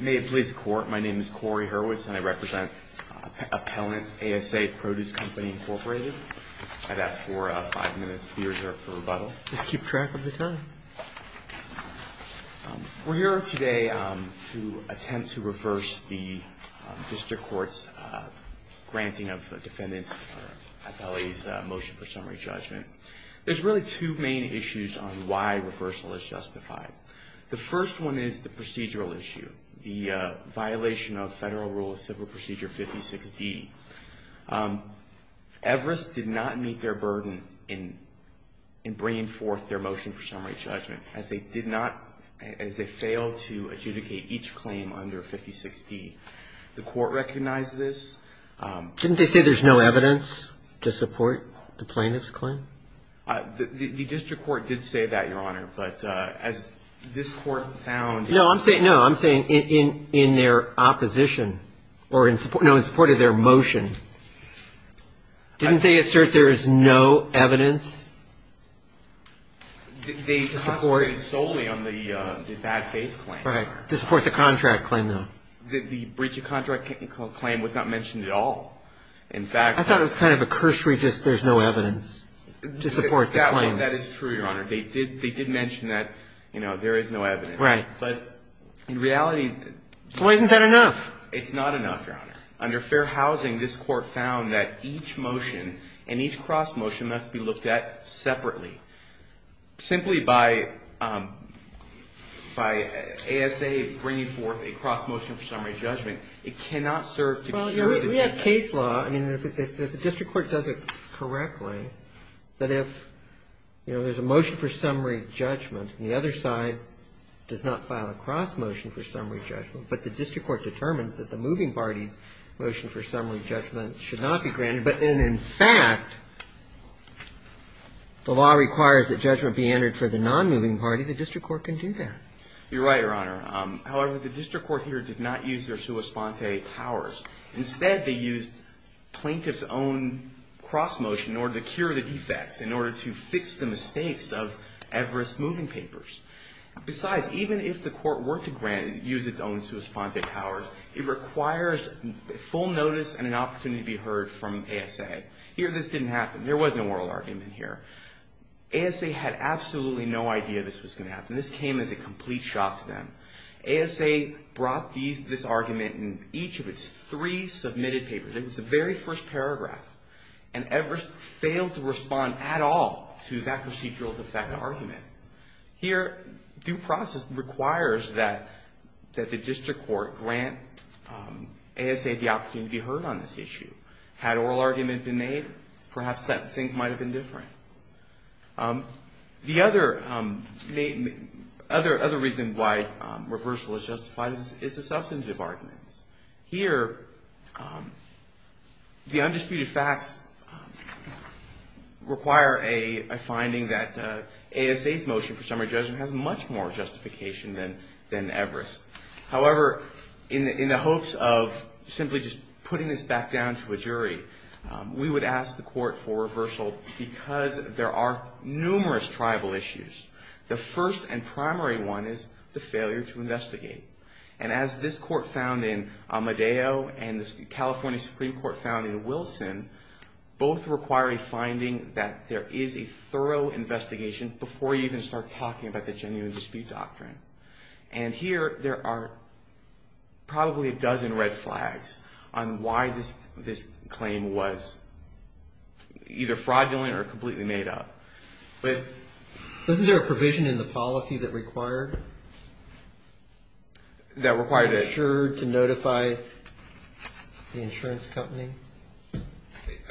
May it please the Court, my name is Corey Hurwitz and I represent Appellant A.S.A. Produce Company, Inc. I'd ask for five minutes to be reserved for rebuttal. Just keep track of the time. We're here today to attempt to reverse the District Court's granting of defendants, or Appellee's, motion for summary judgment. There's really two main issues on why reversal is justified. The first one is the procedural issue, the violation of Federal Rule of Civil Procedure 56D. Everest did not meet their burden in bringing forth their motion for summary judgment, as they failed to adjudicate each claim under 56D. The Court recognized this. Didn't they say there's no evidence to support the plaintiff's claim? The District Court did say that, Your Honor, but as this Court found... No, I'm saying in their opposition, or in support of their motion. Didn't they assert there is no evidence? They concentrated solely on the bad faith claim. Right, to support the contract claim, though. The breach of contract claim was not mentioned at all. I thought it was kind of a cursory, just there's no evidence to support the claim. That is true, Your Honor. They did mention that, you know, there is no evidence. Right. But in reality... Well, isn't that enough? It's not enough, Your Honor. Under Fair Housing, this Court found that each motion and each cross-motion must be looked at separately. Simply by ASA bringing forth a cross-motion for summary judgment, it cannot serve to... Well, we have case law. I mean, if the District Court does it correctly, that if, you know, there's a motion for summary judgment and the other side does not file a cross-motion for summary judgment, but the District Court determines that the moving party's motion for summary judgment should not be granted, but then, in fact, the law requires that judgment be entered for the non-moving party, the District Court can do that. You're right, Your Honor. However, the District Court here did not use their sua sponte powers. Instead, they used plaintiff's own cross-motion in order to cure the defects, in order to fix the mistakes of Everest's moving papers. Besides, even if the Court were to grant it, use its own sua sponte powers, it requires full notice and an opportunity to be heard from ASA. Here, this didn't happen. There was no oral argument here. ASA had absolutely no idea this was going to happen. This came as a complete shock to them. ASA brought this argument in each of its three submitted papers. It was the very first paragraph. And Everest failed to respond at all to that procedural defect argument. Here, due process requires that the District Court grant ASA the opportunity to be heard on this issue. Had oral argument been made, perhaps things might have been different. The other reason why reversal is justified is the substantive arguments. Here, the undisputed facts require a finding that ASA's motion for summary judgment has much more justification than Everest. However, in the hopes of simply just putting this back down to a jury, we would ask the Court for reversal because there are numerous tribal issues. The first and primary one is the failure to investigate. And as this Court found in Amedeo and the California Supreme Court found in Wilson, both require a finding that there is a thorough investigation before you even start talking about the genuine dispute doctrine. And here, there are probably a dozen red flags on why this claim was either fraudulent or completely made up. Isn't there a provision in the policy that required the insured to notify the insurance company?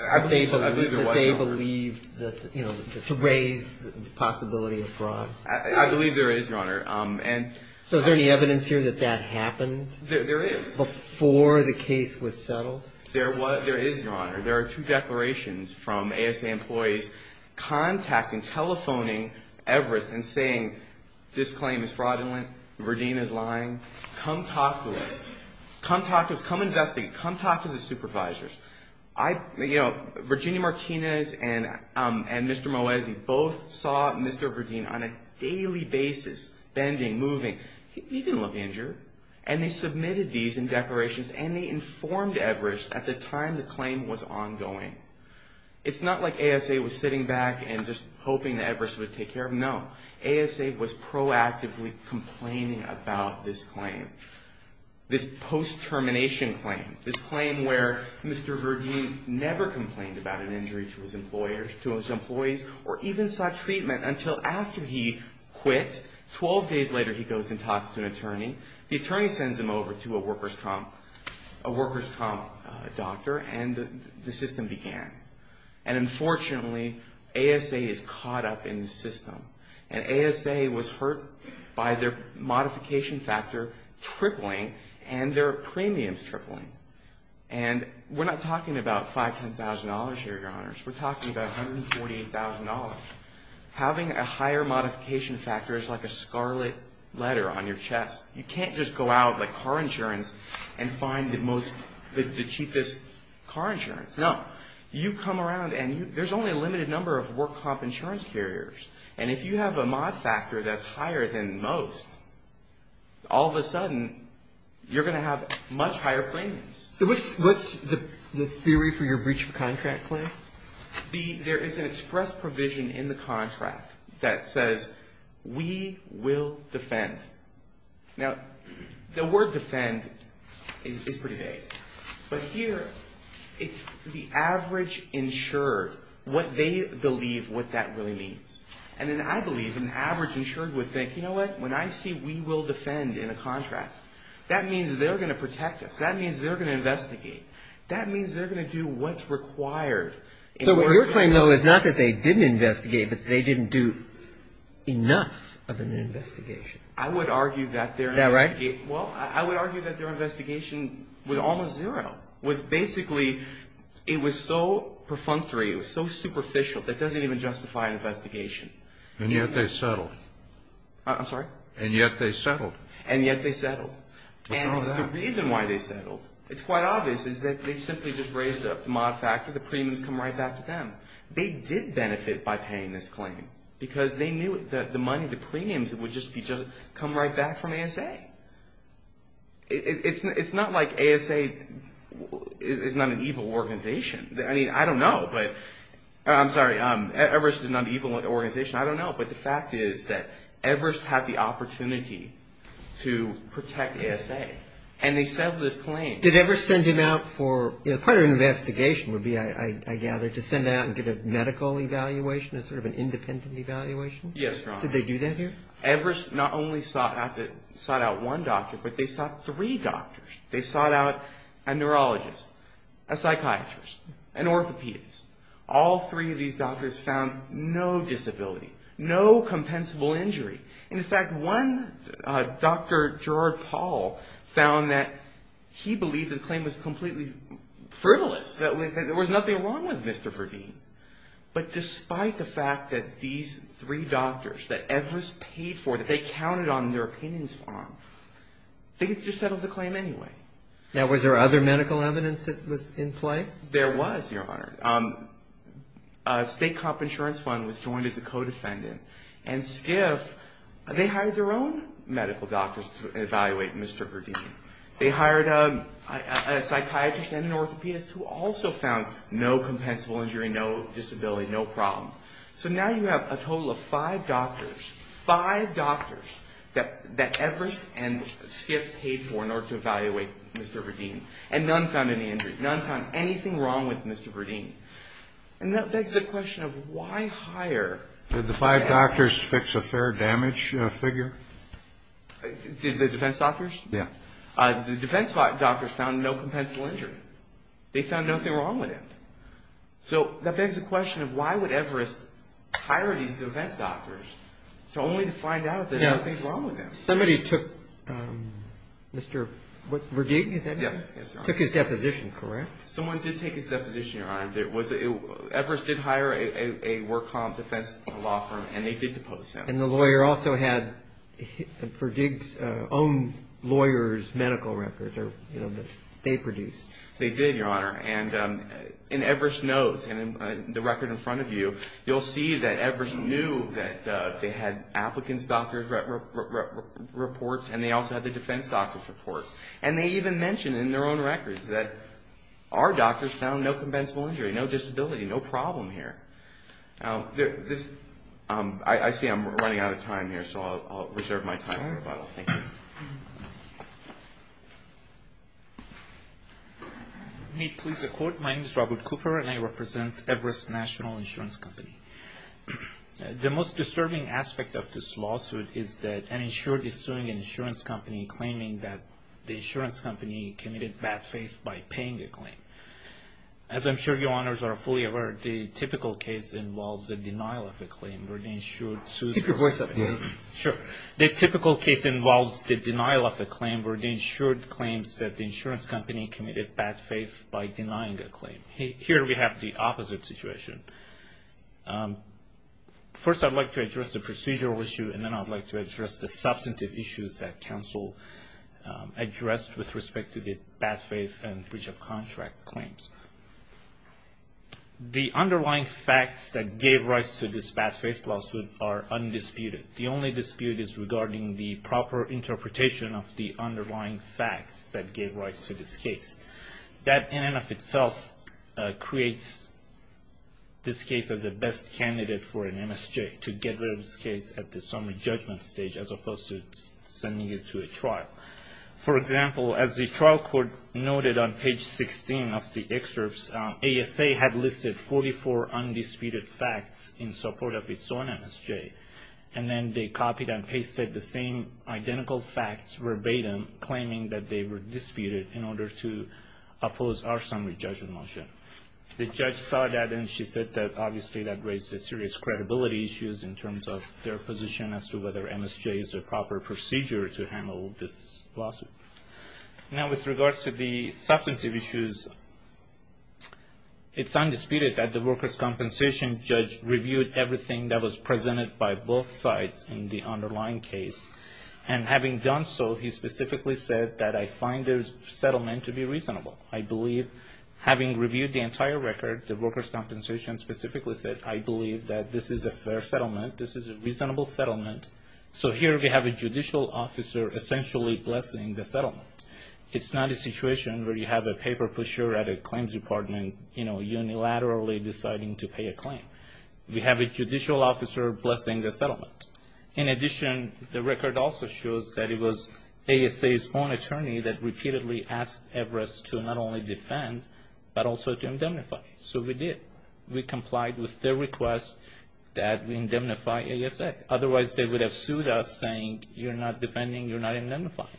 I believe there was, Your Honor. That they believed that, you know, to raise the possibility of fraud. I believe there is, Your Honor. So is there any evidence here that that happened? There is. Before the case was settled? There is, Your Honor. There are two declarations from ASA employees contacting, telephoning Everest and saying, this claim is fraudulent. Verdine is lying. Come talk to us. Come talk to us. Come investigate. Come talk to the supervisors. You know, Virginia Martinez and Mr. Moesi both saw Mr. Verdine on a daily basis bending, moving. He didn't look injured. And they submitted these in declarations and they informed Everest at the time the claim was ongoing. It's not like ASA was sitting back and just hoping that Everest would take care of him. No. ASA was proactively complaining about this claim. This post-termination claim. This claim where Mr. Verdine never complained about an injury to his employers, to his employees, or even sought treatment until after he quit. Twelve days later, he goes and talks to an attorney. The attorney sends him over to a workers' comp doctor and the system began. And unfortunately, ASA is caught up in the system. And ASA was hurt by their modification factor tripling and their premiums tripling. And we're not talking about $5,000, $10,000 here, Your Honors. We're talking about $148,000. Having a higher modification factor is like a scarlet letter on your chest. You can't just go out like car insurance and find the cheapest car insurance. No. You come around and there's only a limited number of work comp insurance carriers. And if you have a mod factor that's higher than most, all of a sudden, you're going to have much higher premiums. So what's the theory for your breach of contract claim? There is an express provision in the contract that says, we will defend. Now, the word defend is pretty vague. But here, it's the average insured, what they believe what that really means. And then I believe an average insured would think, you know what? When I see we will defend in a contract, that means they're going to protect us. That means they're going to investigate. That means they're going to do what's required. So what you're saying, though, is not that they didn't investigate, but they didn't do enough of an investigation. I would argue that their investigation Is that right? Well, I would argue that their investigation was almost zero, was basically, it was so perfunctory, it was so superficial, that doesn't even justify an investigation. And yet they settled. I'm sorry? And yet they settled. And yet they settled. And the reason why they settled, it's quite obvious, is that they simply just raised up the mod factor. The premiums come right back to them. They did benefit by paying this claim, because they knew that the money, the premiums would just come right back from ASA. It's not like ASA is not an evil organization. I mean, I don't know, but, I'm sorry, Everest is not an evil organization. I don't know, but the fact is that Everest had the opportunity to protect ASA, and they settled this claim. Did Everest send him out for, part of an investigation would be, I gather, to send out and get a medical evaluation, a sort of an independent evaluation? Yes, Your Honor. Did they do that here? Everest not only sought out one doctor, but they sought three doctors. They sought out a neurologist, a psychiatrist, an orthopedist. All three of these doctors found no disability, no compensable injury. And, in fact, one doctor, Gerard Paul, found that he believed the claim was completely frivolous, that there was nothing wrong with Mr. Verdeen. But despite the fact that these three doctors that Everest paid for, that they counted on their opinions on, they just settled the claim anyway. Now, was there other medical evidence that was in play? There was, Your Honor. A state comp insurance fund was joined as a co-defendant, and SCIF, they hired their own medical doctors to evaluate Mr. Verdeen. They hired a psychiatrist and an orthopedist who also found no compensable injury, no disability, no problem. So now you have a total of five doctors, five doctors, that Everest and SCIF paid for in order to evaluate Mr. Verdeen, and none found any injury. None found anything wrong with Mr. Verdeen. And that begs the question of why hire? Did the five doctors fix a fair damage figure? Did the defense doctors? Yeah. The defense doctors found no compensable injury. They found nothing wrong with him. So that begs the question of why would Everest hire these defense doctors? So only to find out that there's nothing wrong with him. Somebody took Mr. Verdeen, is that it? Yes. Took his deposition, correct? Someone did take his deposition, Your Honor. Everest did hire a work comp defense law firm, and they did depose him. And the lawyer also had Verdeen's own lawyer's medical records that they produced. They did, Your Honor. And Everest knows. And in the record in front of you, you'll see that Everest knew that they had applicants' doctor reports, and they also had the defense doctors' reports. And they even mentioned in their own records that our doctors found no compensable injury, no disability, no problem here. I see I'm running out of time here, so I'll reserve my time for rebuttal. Thank you. May it please the Court? My name is Robert Cooper, and I represent Everest National Insurance Company. The most disturbing aspect of this lawsuit is that an insured is suing an insurance company claiming that the insurance company committed bad faith by paying the claim. As I'm sure Your Honors are fully aware, the typical case involves a denial of a claim where the insured sues. Keep your voice up, please. Sure. The typical case involves the denial of a claim where the insured claims that the insurance company committed bad faith by denying a claim. Here we have the opposite situation. First, I'd like to address the procedural issue, and then I'd like to address the substantive issues that counsel addressed with respect to the bad faith and breach of contract claims. The underlying facts that gave rise to this bad faith lawsuit are undisputed. The only dispute is regarding the proper interpretation of the underlying facts that gave rise to this case. That in and of itself creates this case as the best candidate for an MSJ, to get rid of this case at the summary judgment stage as opposed to sending it to a trial. For example, as the trial court noted on page 16 of the excerpts, ASA had listed 44 undisputed facts in support of its own MSJ, and then they copied and pasted the same identical facts verbatim, claiming that they were disputed in order to oppose our summary judgment motion. The judge saw that and she said that, obviously, that raised serious credibility issues in terms of their position as to whether MSJ is a proper procedure to handle this lawsuit. Now, with regards to the substantive issues, it's undisputed that the workers' compensation judge reviewed everything that was presented by both sides in the underlying case, and having done so, he specifically said that, I find their settlement to be reasonable. I believe, having reviewed the entire record, the workers' compensation specifically said, I believe that this is a fair settlement, this is a reasonable settlement. So here we have a judicial officer essentially blessing the settlement. It's not a situation where you have a paper pusher at a claims department, you know, unilaterally deciding to pay a claim. We have a judicial officer blessing the settlement. In addition, the record also shows that it was ASA's own attorney that repeatedly asked Everest to not only defend, but also to indemnify. So we did. We complied with their request that we indemnify ASA. Otherwise, they would have sued us, saying, you're not defending, you're not indemnifying.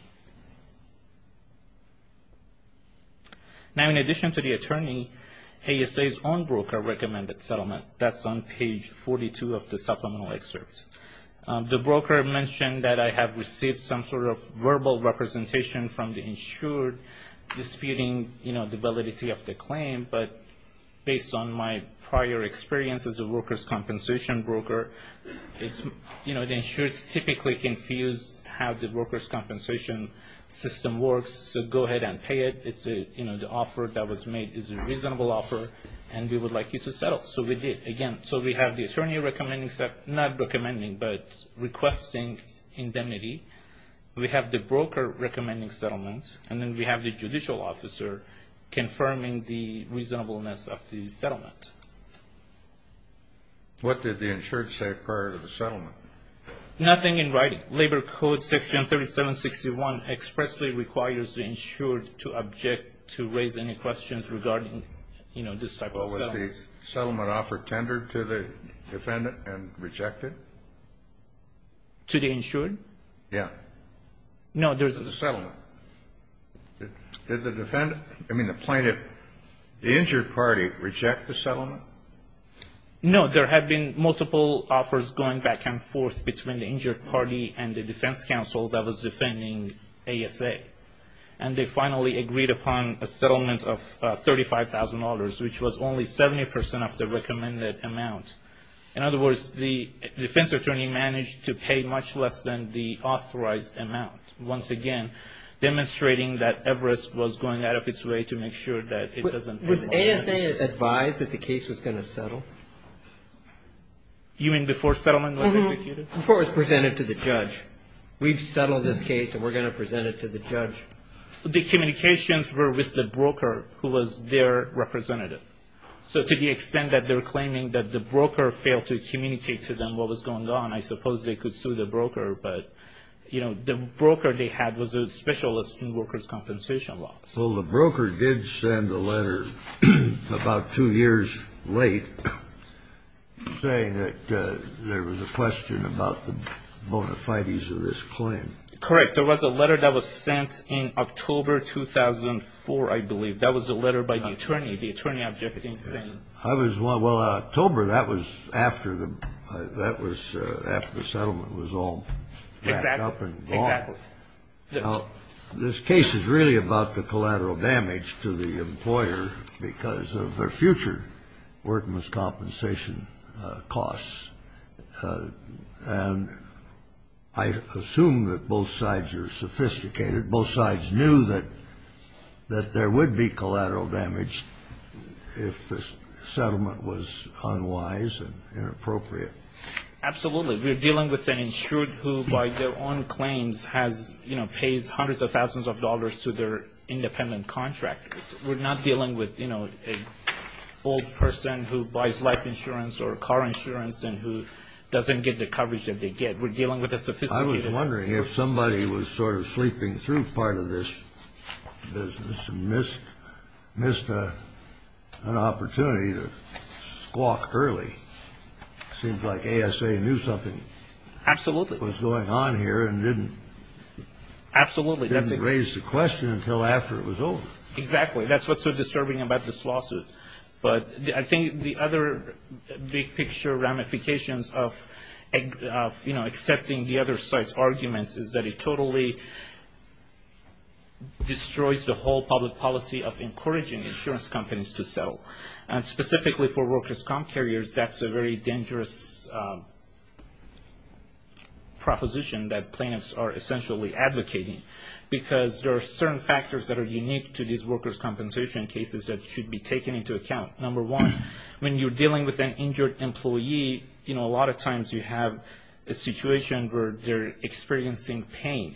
Now, in addition to the attorney, ASA's own broker recommended settlement. That's on page 42 of the supplemental excerpts. The broker mentioned that I have received some sort of verbal representation from the insured, disputing, you know, the validity of the claim, but based on my prior experience as a workers' compensation broker, it's, you know, the insured's typically confused how the workers' compensation system works, so go ahead and pay it. It's a, you know, the offer that was made is a reasonable offer, and we would like you to settle. So we did. Again, so we have the attorney recommending, not recommending, but requesting indemnity. We have the broker recommending settlement, and then we have the judicial officer confirming the reasonableness of the settlement. What did the insured say prior to the settlement? Nothing in writing. Labor Code section 3761 expressly requires the insured to object to raise any questions regarding, you know, these types of settlements. Well, was the settlement offer tendered to the defendant and rejected? To the insured? Yeah. No, there's a settlement. Did the defendant, I mean the plaintiff, the insured party reject the settlement? No, there have been multiple offers going back and forth between the insured party and the defense counsel that was defending ASA. And they finally agreed upon a settlement of $35,000, which was only 70 percent of the recommended amount. In other words, the defense attorney managed to pay much less than the authorized amount. Once again, demonstrating that Everest was going out of its way to make sure that it doesn't pay more. Was ASA advised that the case was going to settle? You mean before settlement was executed? Before it was presented to the judge. We've settled this case, and we're going to present it to the judge. The communications were with the broker, who was their representative. So to the extent that they're claiming that the broker failed to communicate to them what was going on, I suppose they could sue the broker. But, you know, the broker they had was a specialist in workers' compensation laws. Well, the broker did send a letter about two years late saying that there was a question about the bona fides of this claim. Correct. There was a letter that was sent in October 2004, I believe. That was a letter by the attorney. The attorney objecting, saying... Well, October, that was after the settlement was all backed up and gone. Exactly. Now, this case is really about the collateral damage to the employer because of their future workers' compensation costs. And I assume that both sides are sophisticated. Both sides knew that there would be collateral damage if the settlement was unwise and inappropriate. Absolutely. We're dealing with an insured who, by their own claims, has, you know, pays hundreds of thousands of dollars to their independent contractors. We're not dealing with, you know, an old person who buys life insurance or car insurance and who doesn't get the coverage that they get. We're dealing with a sophisticated... I was wondering if somebody was sort of sleeping through part of this business and missed an opportunity to squawk early. It seems like ASA knew something... Absolutely. ...was going on here and didn't... Absolutely. ...didn't raise the question until after it was over. Exactly. That's what's so disturbing about this lawsuit. But I think the other big picture ramifications of, you know, accepting the other side's arguments is that it totally destroys the whole public policy of encouraging insurance companies to settle. And specifically for workers' comp carriers, that's a very dangerous proposition that plaintiffs are essentially advocating because there are certain factors that are unique to these workers' compensation cases that should be taken into account. Number one, when you're dealing with an injured employee, you know, a lot of times you have a situation where they're experiencing pain.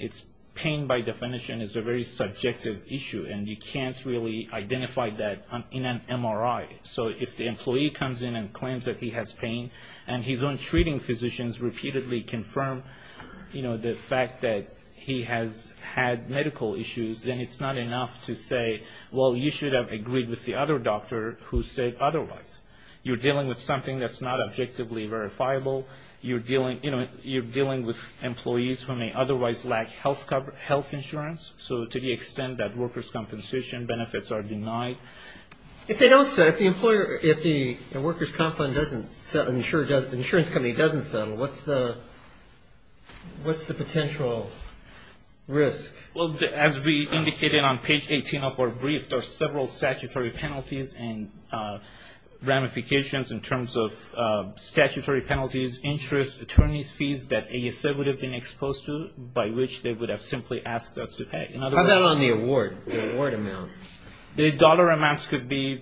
Pain, by definition, is a very subjective issue, and you can't really identify that in an MRI. So if the employee comes in and claims that he has pain and his own treating physicians repeatedly confirm, you know, the fact that he has had medical issues, then it's not enough to say, well, you should have agreed with the other doctor who said otherwise. You're dealing with something that's not objectively verifiable. You're dealing, you know, you're dealing with employees who may otherwise lack health insurance. So to the extent that workers' compensation benefits are denied... If they don't settle, if the employer, if the workers' comp fund doesn't settle, the insurance company doesn't settle, what's the potential risk? Well, as we indicated on page 18 of our brief, there are several statutory penalties and ramifications in terms of statutory penalties, interest, attorney's fees that ASA would have been exposed to by which they would have simply asked us to pay. How about on the award, the award amount? The dollar amounts could be,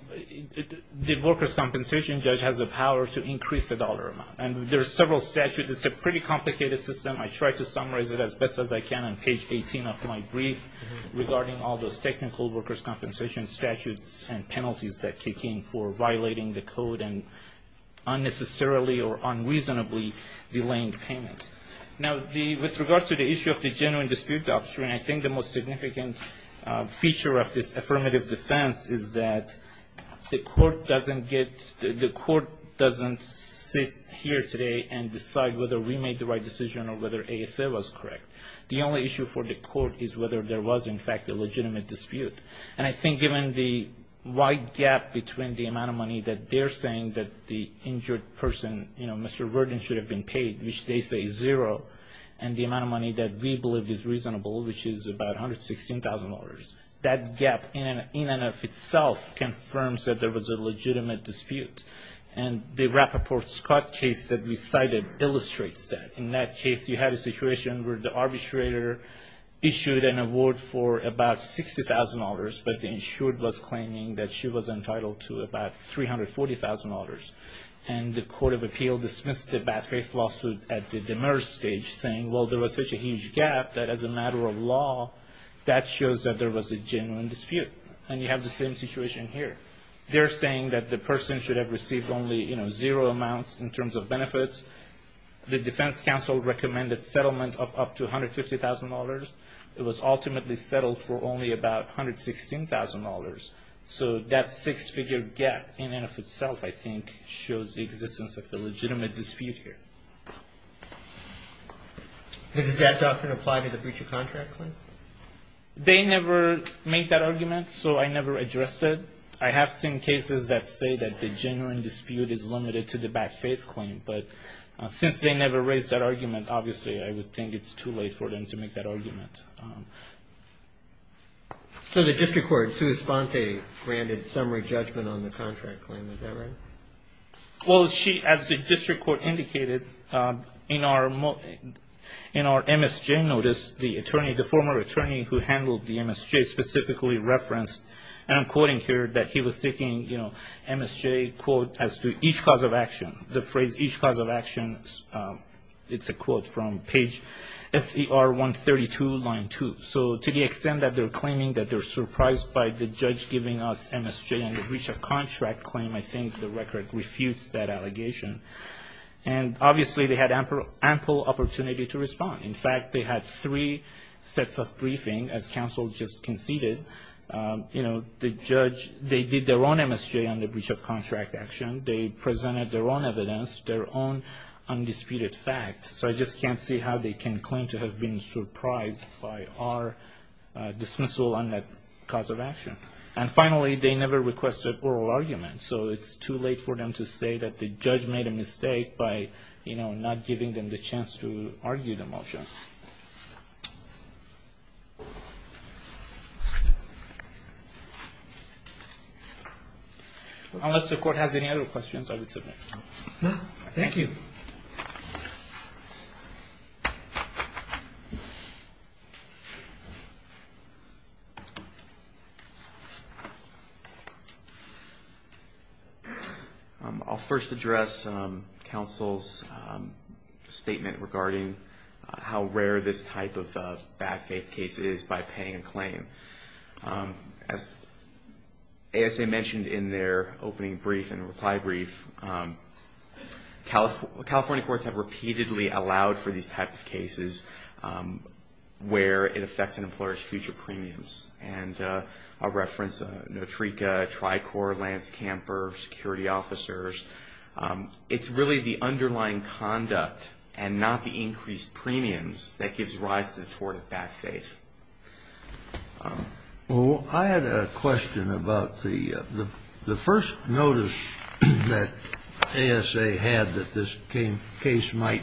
the workers' compensation judge has the power to increase the dollar amount. And there are several statutes. It's a pretty complicated system. I try to summarize it as best as I can on page 18 of my brief regarding all those technical workers' compensation statutes and penalties that kick in for violating the code and unnecessarily or unreasonably delaying payment. Now, with regards to the issue of the genuine dispute doctrine, I think the most significant feature of this affirmative defense is that the court doesn't get, the court doesn't sit here today and decide whether we made the right decision or whether ASA was correct. The only issue for the court is whether there was in fact a legitimate dispute. And I think given the wide gap between the amount of money that they're saying that the injured person, you know, Mr. Verdin should have been paid, which they say is zero, and the amount of money that we believe is reasonable, which is about $116,000, that gap in and of itself confirms that there was a legitimate dispute. And the Rappaport-Scott case that we cited illustrates that. In that case, you had a situation where the arbitrator issued an award for about $60,000, but the insured was claiming that she was entitled to about $340,000. And the court of appeal dismissed the bad faith lawsuit at the demurred stage, saying, well, there was such a huge gap that as a matter of law, that shows that there was a genuine dispute. And you have the same situation here. They're saying that the person should have received only, you know, zero amounts in terms of benefits. The defense counsel recommended settlement of up to $150,000. It was ultimately settled for only about $116,000. So that six-figure gap in and of itself, I think, shows the existence of a legitimate dispute here. And does that doctrine apply to the breach of contract claim? They never made that argument, so I never addressed it. I have seen cases that say that the genuine dispute is limited to the bad faith claim. But since they never raised that argument, obviously, I would think it's too late for them to make that argument. So the district court, Sue Esponte, granted summary judgment on the contract claim. Is that right? Well, she, as the district court indicated, in our MSJ notice, the attorney, the former attorney who handled the MSJ, specifically referenced, and I'm quoting here, that he was seeking, you know, MSJ, quote, as to each cause of action. The phrase, each cause of action, it's a quote from page SCR 132, line 2. So to the extent that they're claiming that they're surprised by the judge giving us MSJ on the breach of contract claim, I think the record refutes that allegation. And obviously, they had ample opportunity to respond. In fact, they had three sets of briefing, as counsel just conceded. You know, the judge, they did their own MSJ on the breach of contract action. They presented their own evidence, their own undisputed fact. So I just can't see how they can claim to have been surprised by our dismissal on that cause of action. And finally, they never requested oral argument. So it's too late for them to say that the judge made a mistake by, you know, Unless the court has any other questions, I would submit. Thank you. Thank you. I'll first address counsel's statement regarding how rare this type of bad faith case is by paying a claim. As ASA mentioned in their opening brief and reply brief, California courts have repeatedly allowed for these types of cases where it affects an employer's future premiums. And I'll reference Notreika, Tricor, Lance Camper, security officers. It's really the underlying conduct and not the increased premiums that gives rise to the tort of bad faith. Well, I had a question about the first notice that ASA had that this case might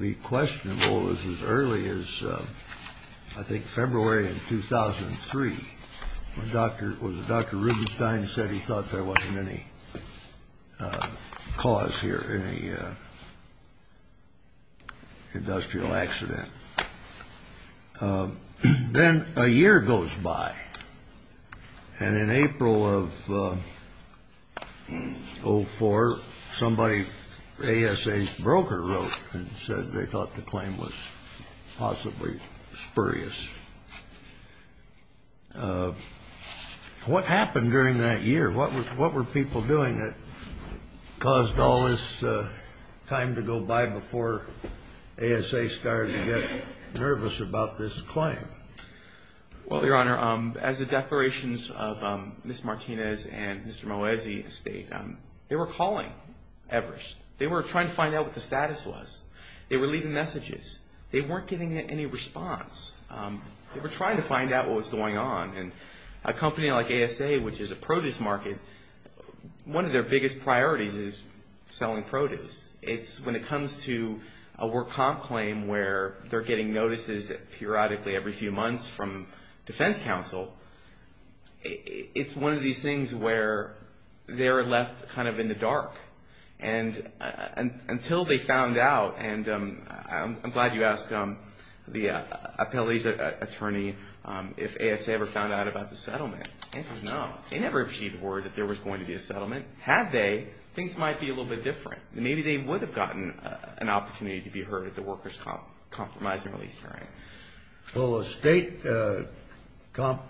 be questionable. It was as early as, I think, February of 2003. Dr. Rubenstein said he thought there wasn't any cause here, any industrial accident. Then a year goes by. And in April of 04, somebody, ASA's broker wrote and said they thought the claim was possibly spurious. What happened during that year? What were people doing that caused all this time to go by before ASA started to get nervous about this claim? Well, Your Honor, as the declarations of Ms. Martinez and Mr. Moesi state, they were calling Everest. They were trying to find out what the status was. They were leaving messages. They weren't getting any response. They were trying to find out what was going on. And a company like ASA, which is a produce market, one of their biggest priorities is selling produce. When it comes to a work comp claim where they're getting notices periodically every few months from defense counsel, it's one of these things where they're left kind of in the dark. And until they found out, and I'm glad you asked the appellee's attorney if ASA ever found out about the settlement. The answer is no. They never received word that there was going to be a settlement. Had they, things might be a little bit different. Maybe they would have gotten an opportunity to be heard at the workers' comp compromise and release hearing. Well, a state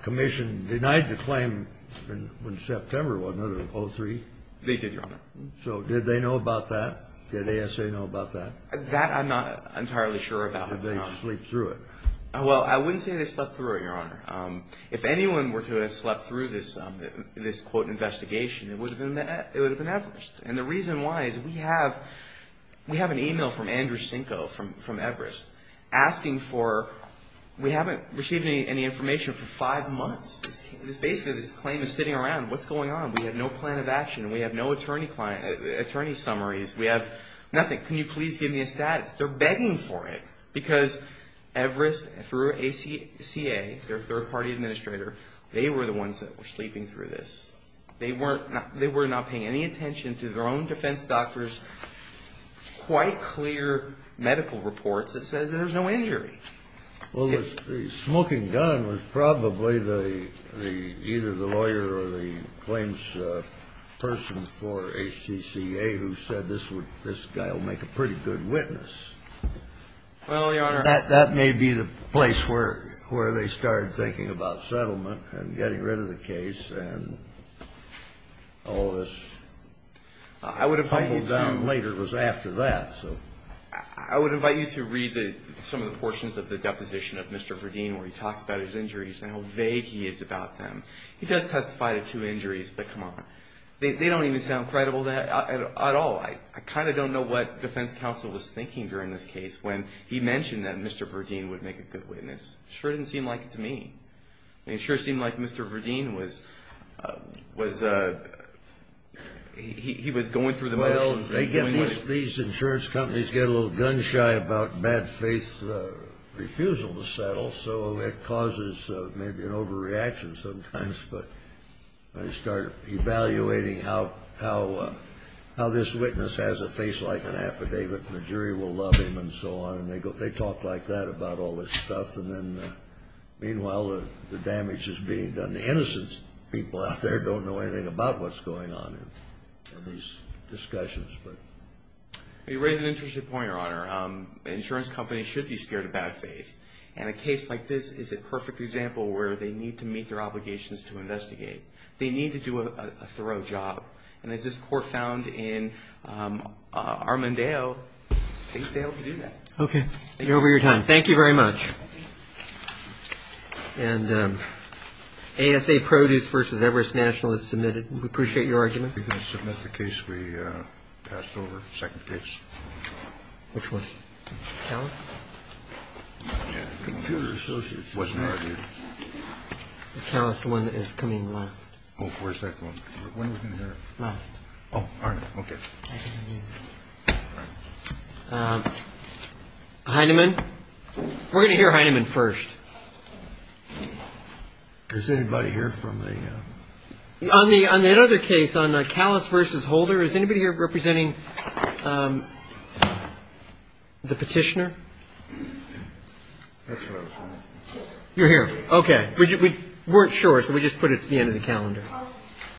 commission denied the claim in September, wasn't it, of 03? They did, Your Honor. So did they know about that? Did ASA know about that? That I'm not entirely sure about, Your Honor. Did they sleep through it? Well, I wouldn't say they slept through it, Your Honor. If anyone were to have slept through this, quote, investigation, it would have been Everest. And the reason why is we have an e-mail from Andrew Sinko from Everest asking for, we haven't received any information for five months. Basically, this claim is sitting around. What's going on? We have no plan of action. We have no attorney summaries. We have nothing. Can you please give me a status? They're begging for it because Everest, through ACCA, their third-party administrator, they were the ones that were sleeping through this. They were not paying any attention to their own defense doctor's quite clear medical reports that says there's no injury. Well, the smoking gun was probably either the lawyer or the claims person for ACCA who said this guy will make a pretty good witness. Well, Your Honor. That may be the place where they started thinking about settlement and getting rid of the case and all this. I would invite you to read some of the portions of the deposition of Mr. Verdeen where he talks about his injuries and how vague he is about them. He does testify to two injuries, but come on. They don't even sound credible at all. I kind of don't know what defense counsel was thinking during this case when he mentioned that Mr. Verdeen would make a good witness. It sure didn't seem like it to me. It sure seemed like Mr. Verdeen was going through the motions. Well, these insurance companies get a little gun shy about bad faith refusal to settle, so it causes maybe an overreaction sometimes, but they start evaluating how this witness has a face like an affidavit and the jury will love him and so on, and they talk like that about all this stuff. Meanwhile, the damage is being done. The innocent people out there don't know anything about what's going on in these discussions. You raise an interesting point, Your Honor. Insurance companies should be scared of bad faith. And a case like this is a perfect example where they need to meet their obligations to investigate. They need to do a thorough job. And as this court found in Armondale, they failed to do that. Okay. Thank you for your time. Thank you very much. And ASA Produce v. Everest National is submitted. We appreciate your argument. We're going to submit the case we passed over, second case. Which one? Callous? Yeah. Computer Associates. Wasn't argued. Callous, the one that is coming last. Oh, where's that one? When are we going to hear it? Last. Oh, all right. Okay. Heinemann? We're going to hear Heinemann first. Does anybody hear from the? On that other case, on Callous v. Holder, is anybody here representing the petitioner? You're here. Okay. We weren't sure, so we just put it at the end of the calendar.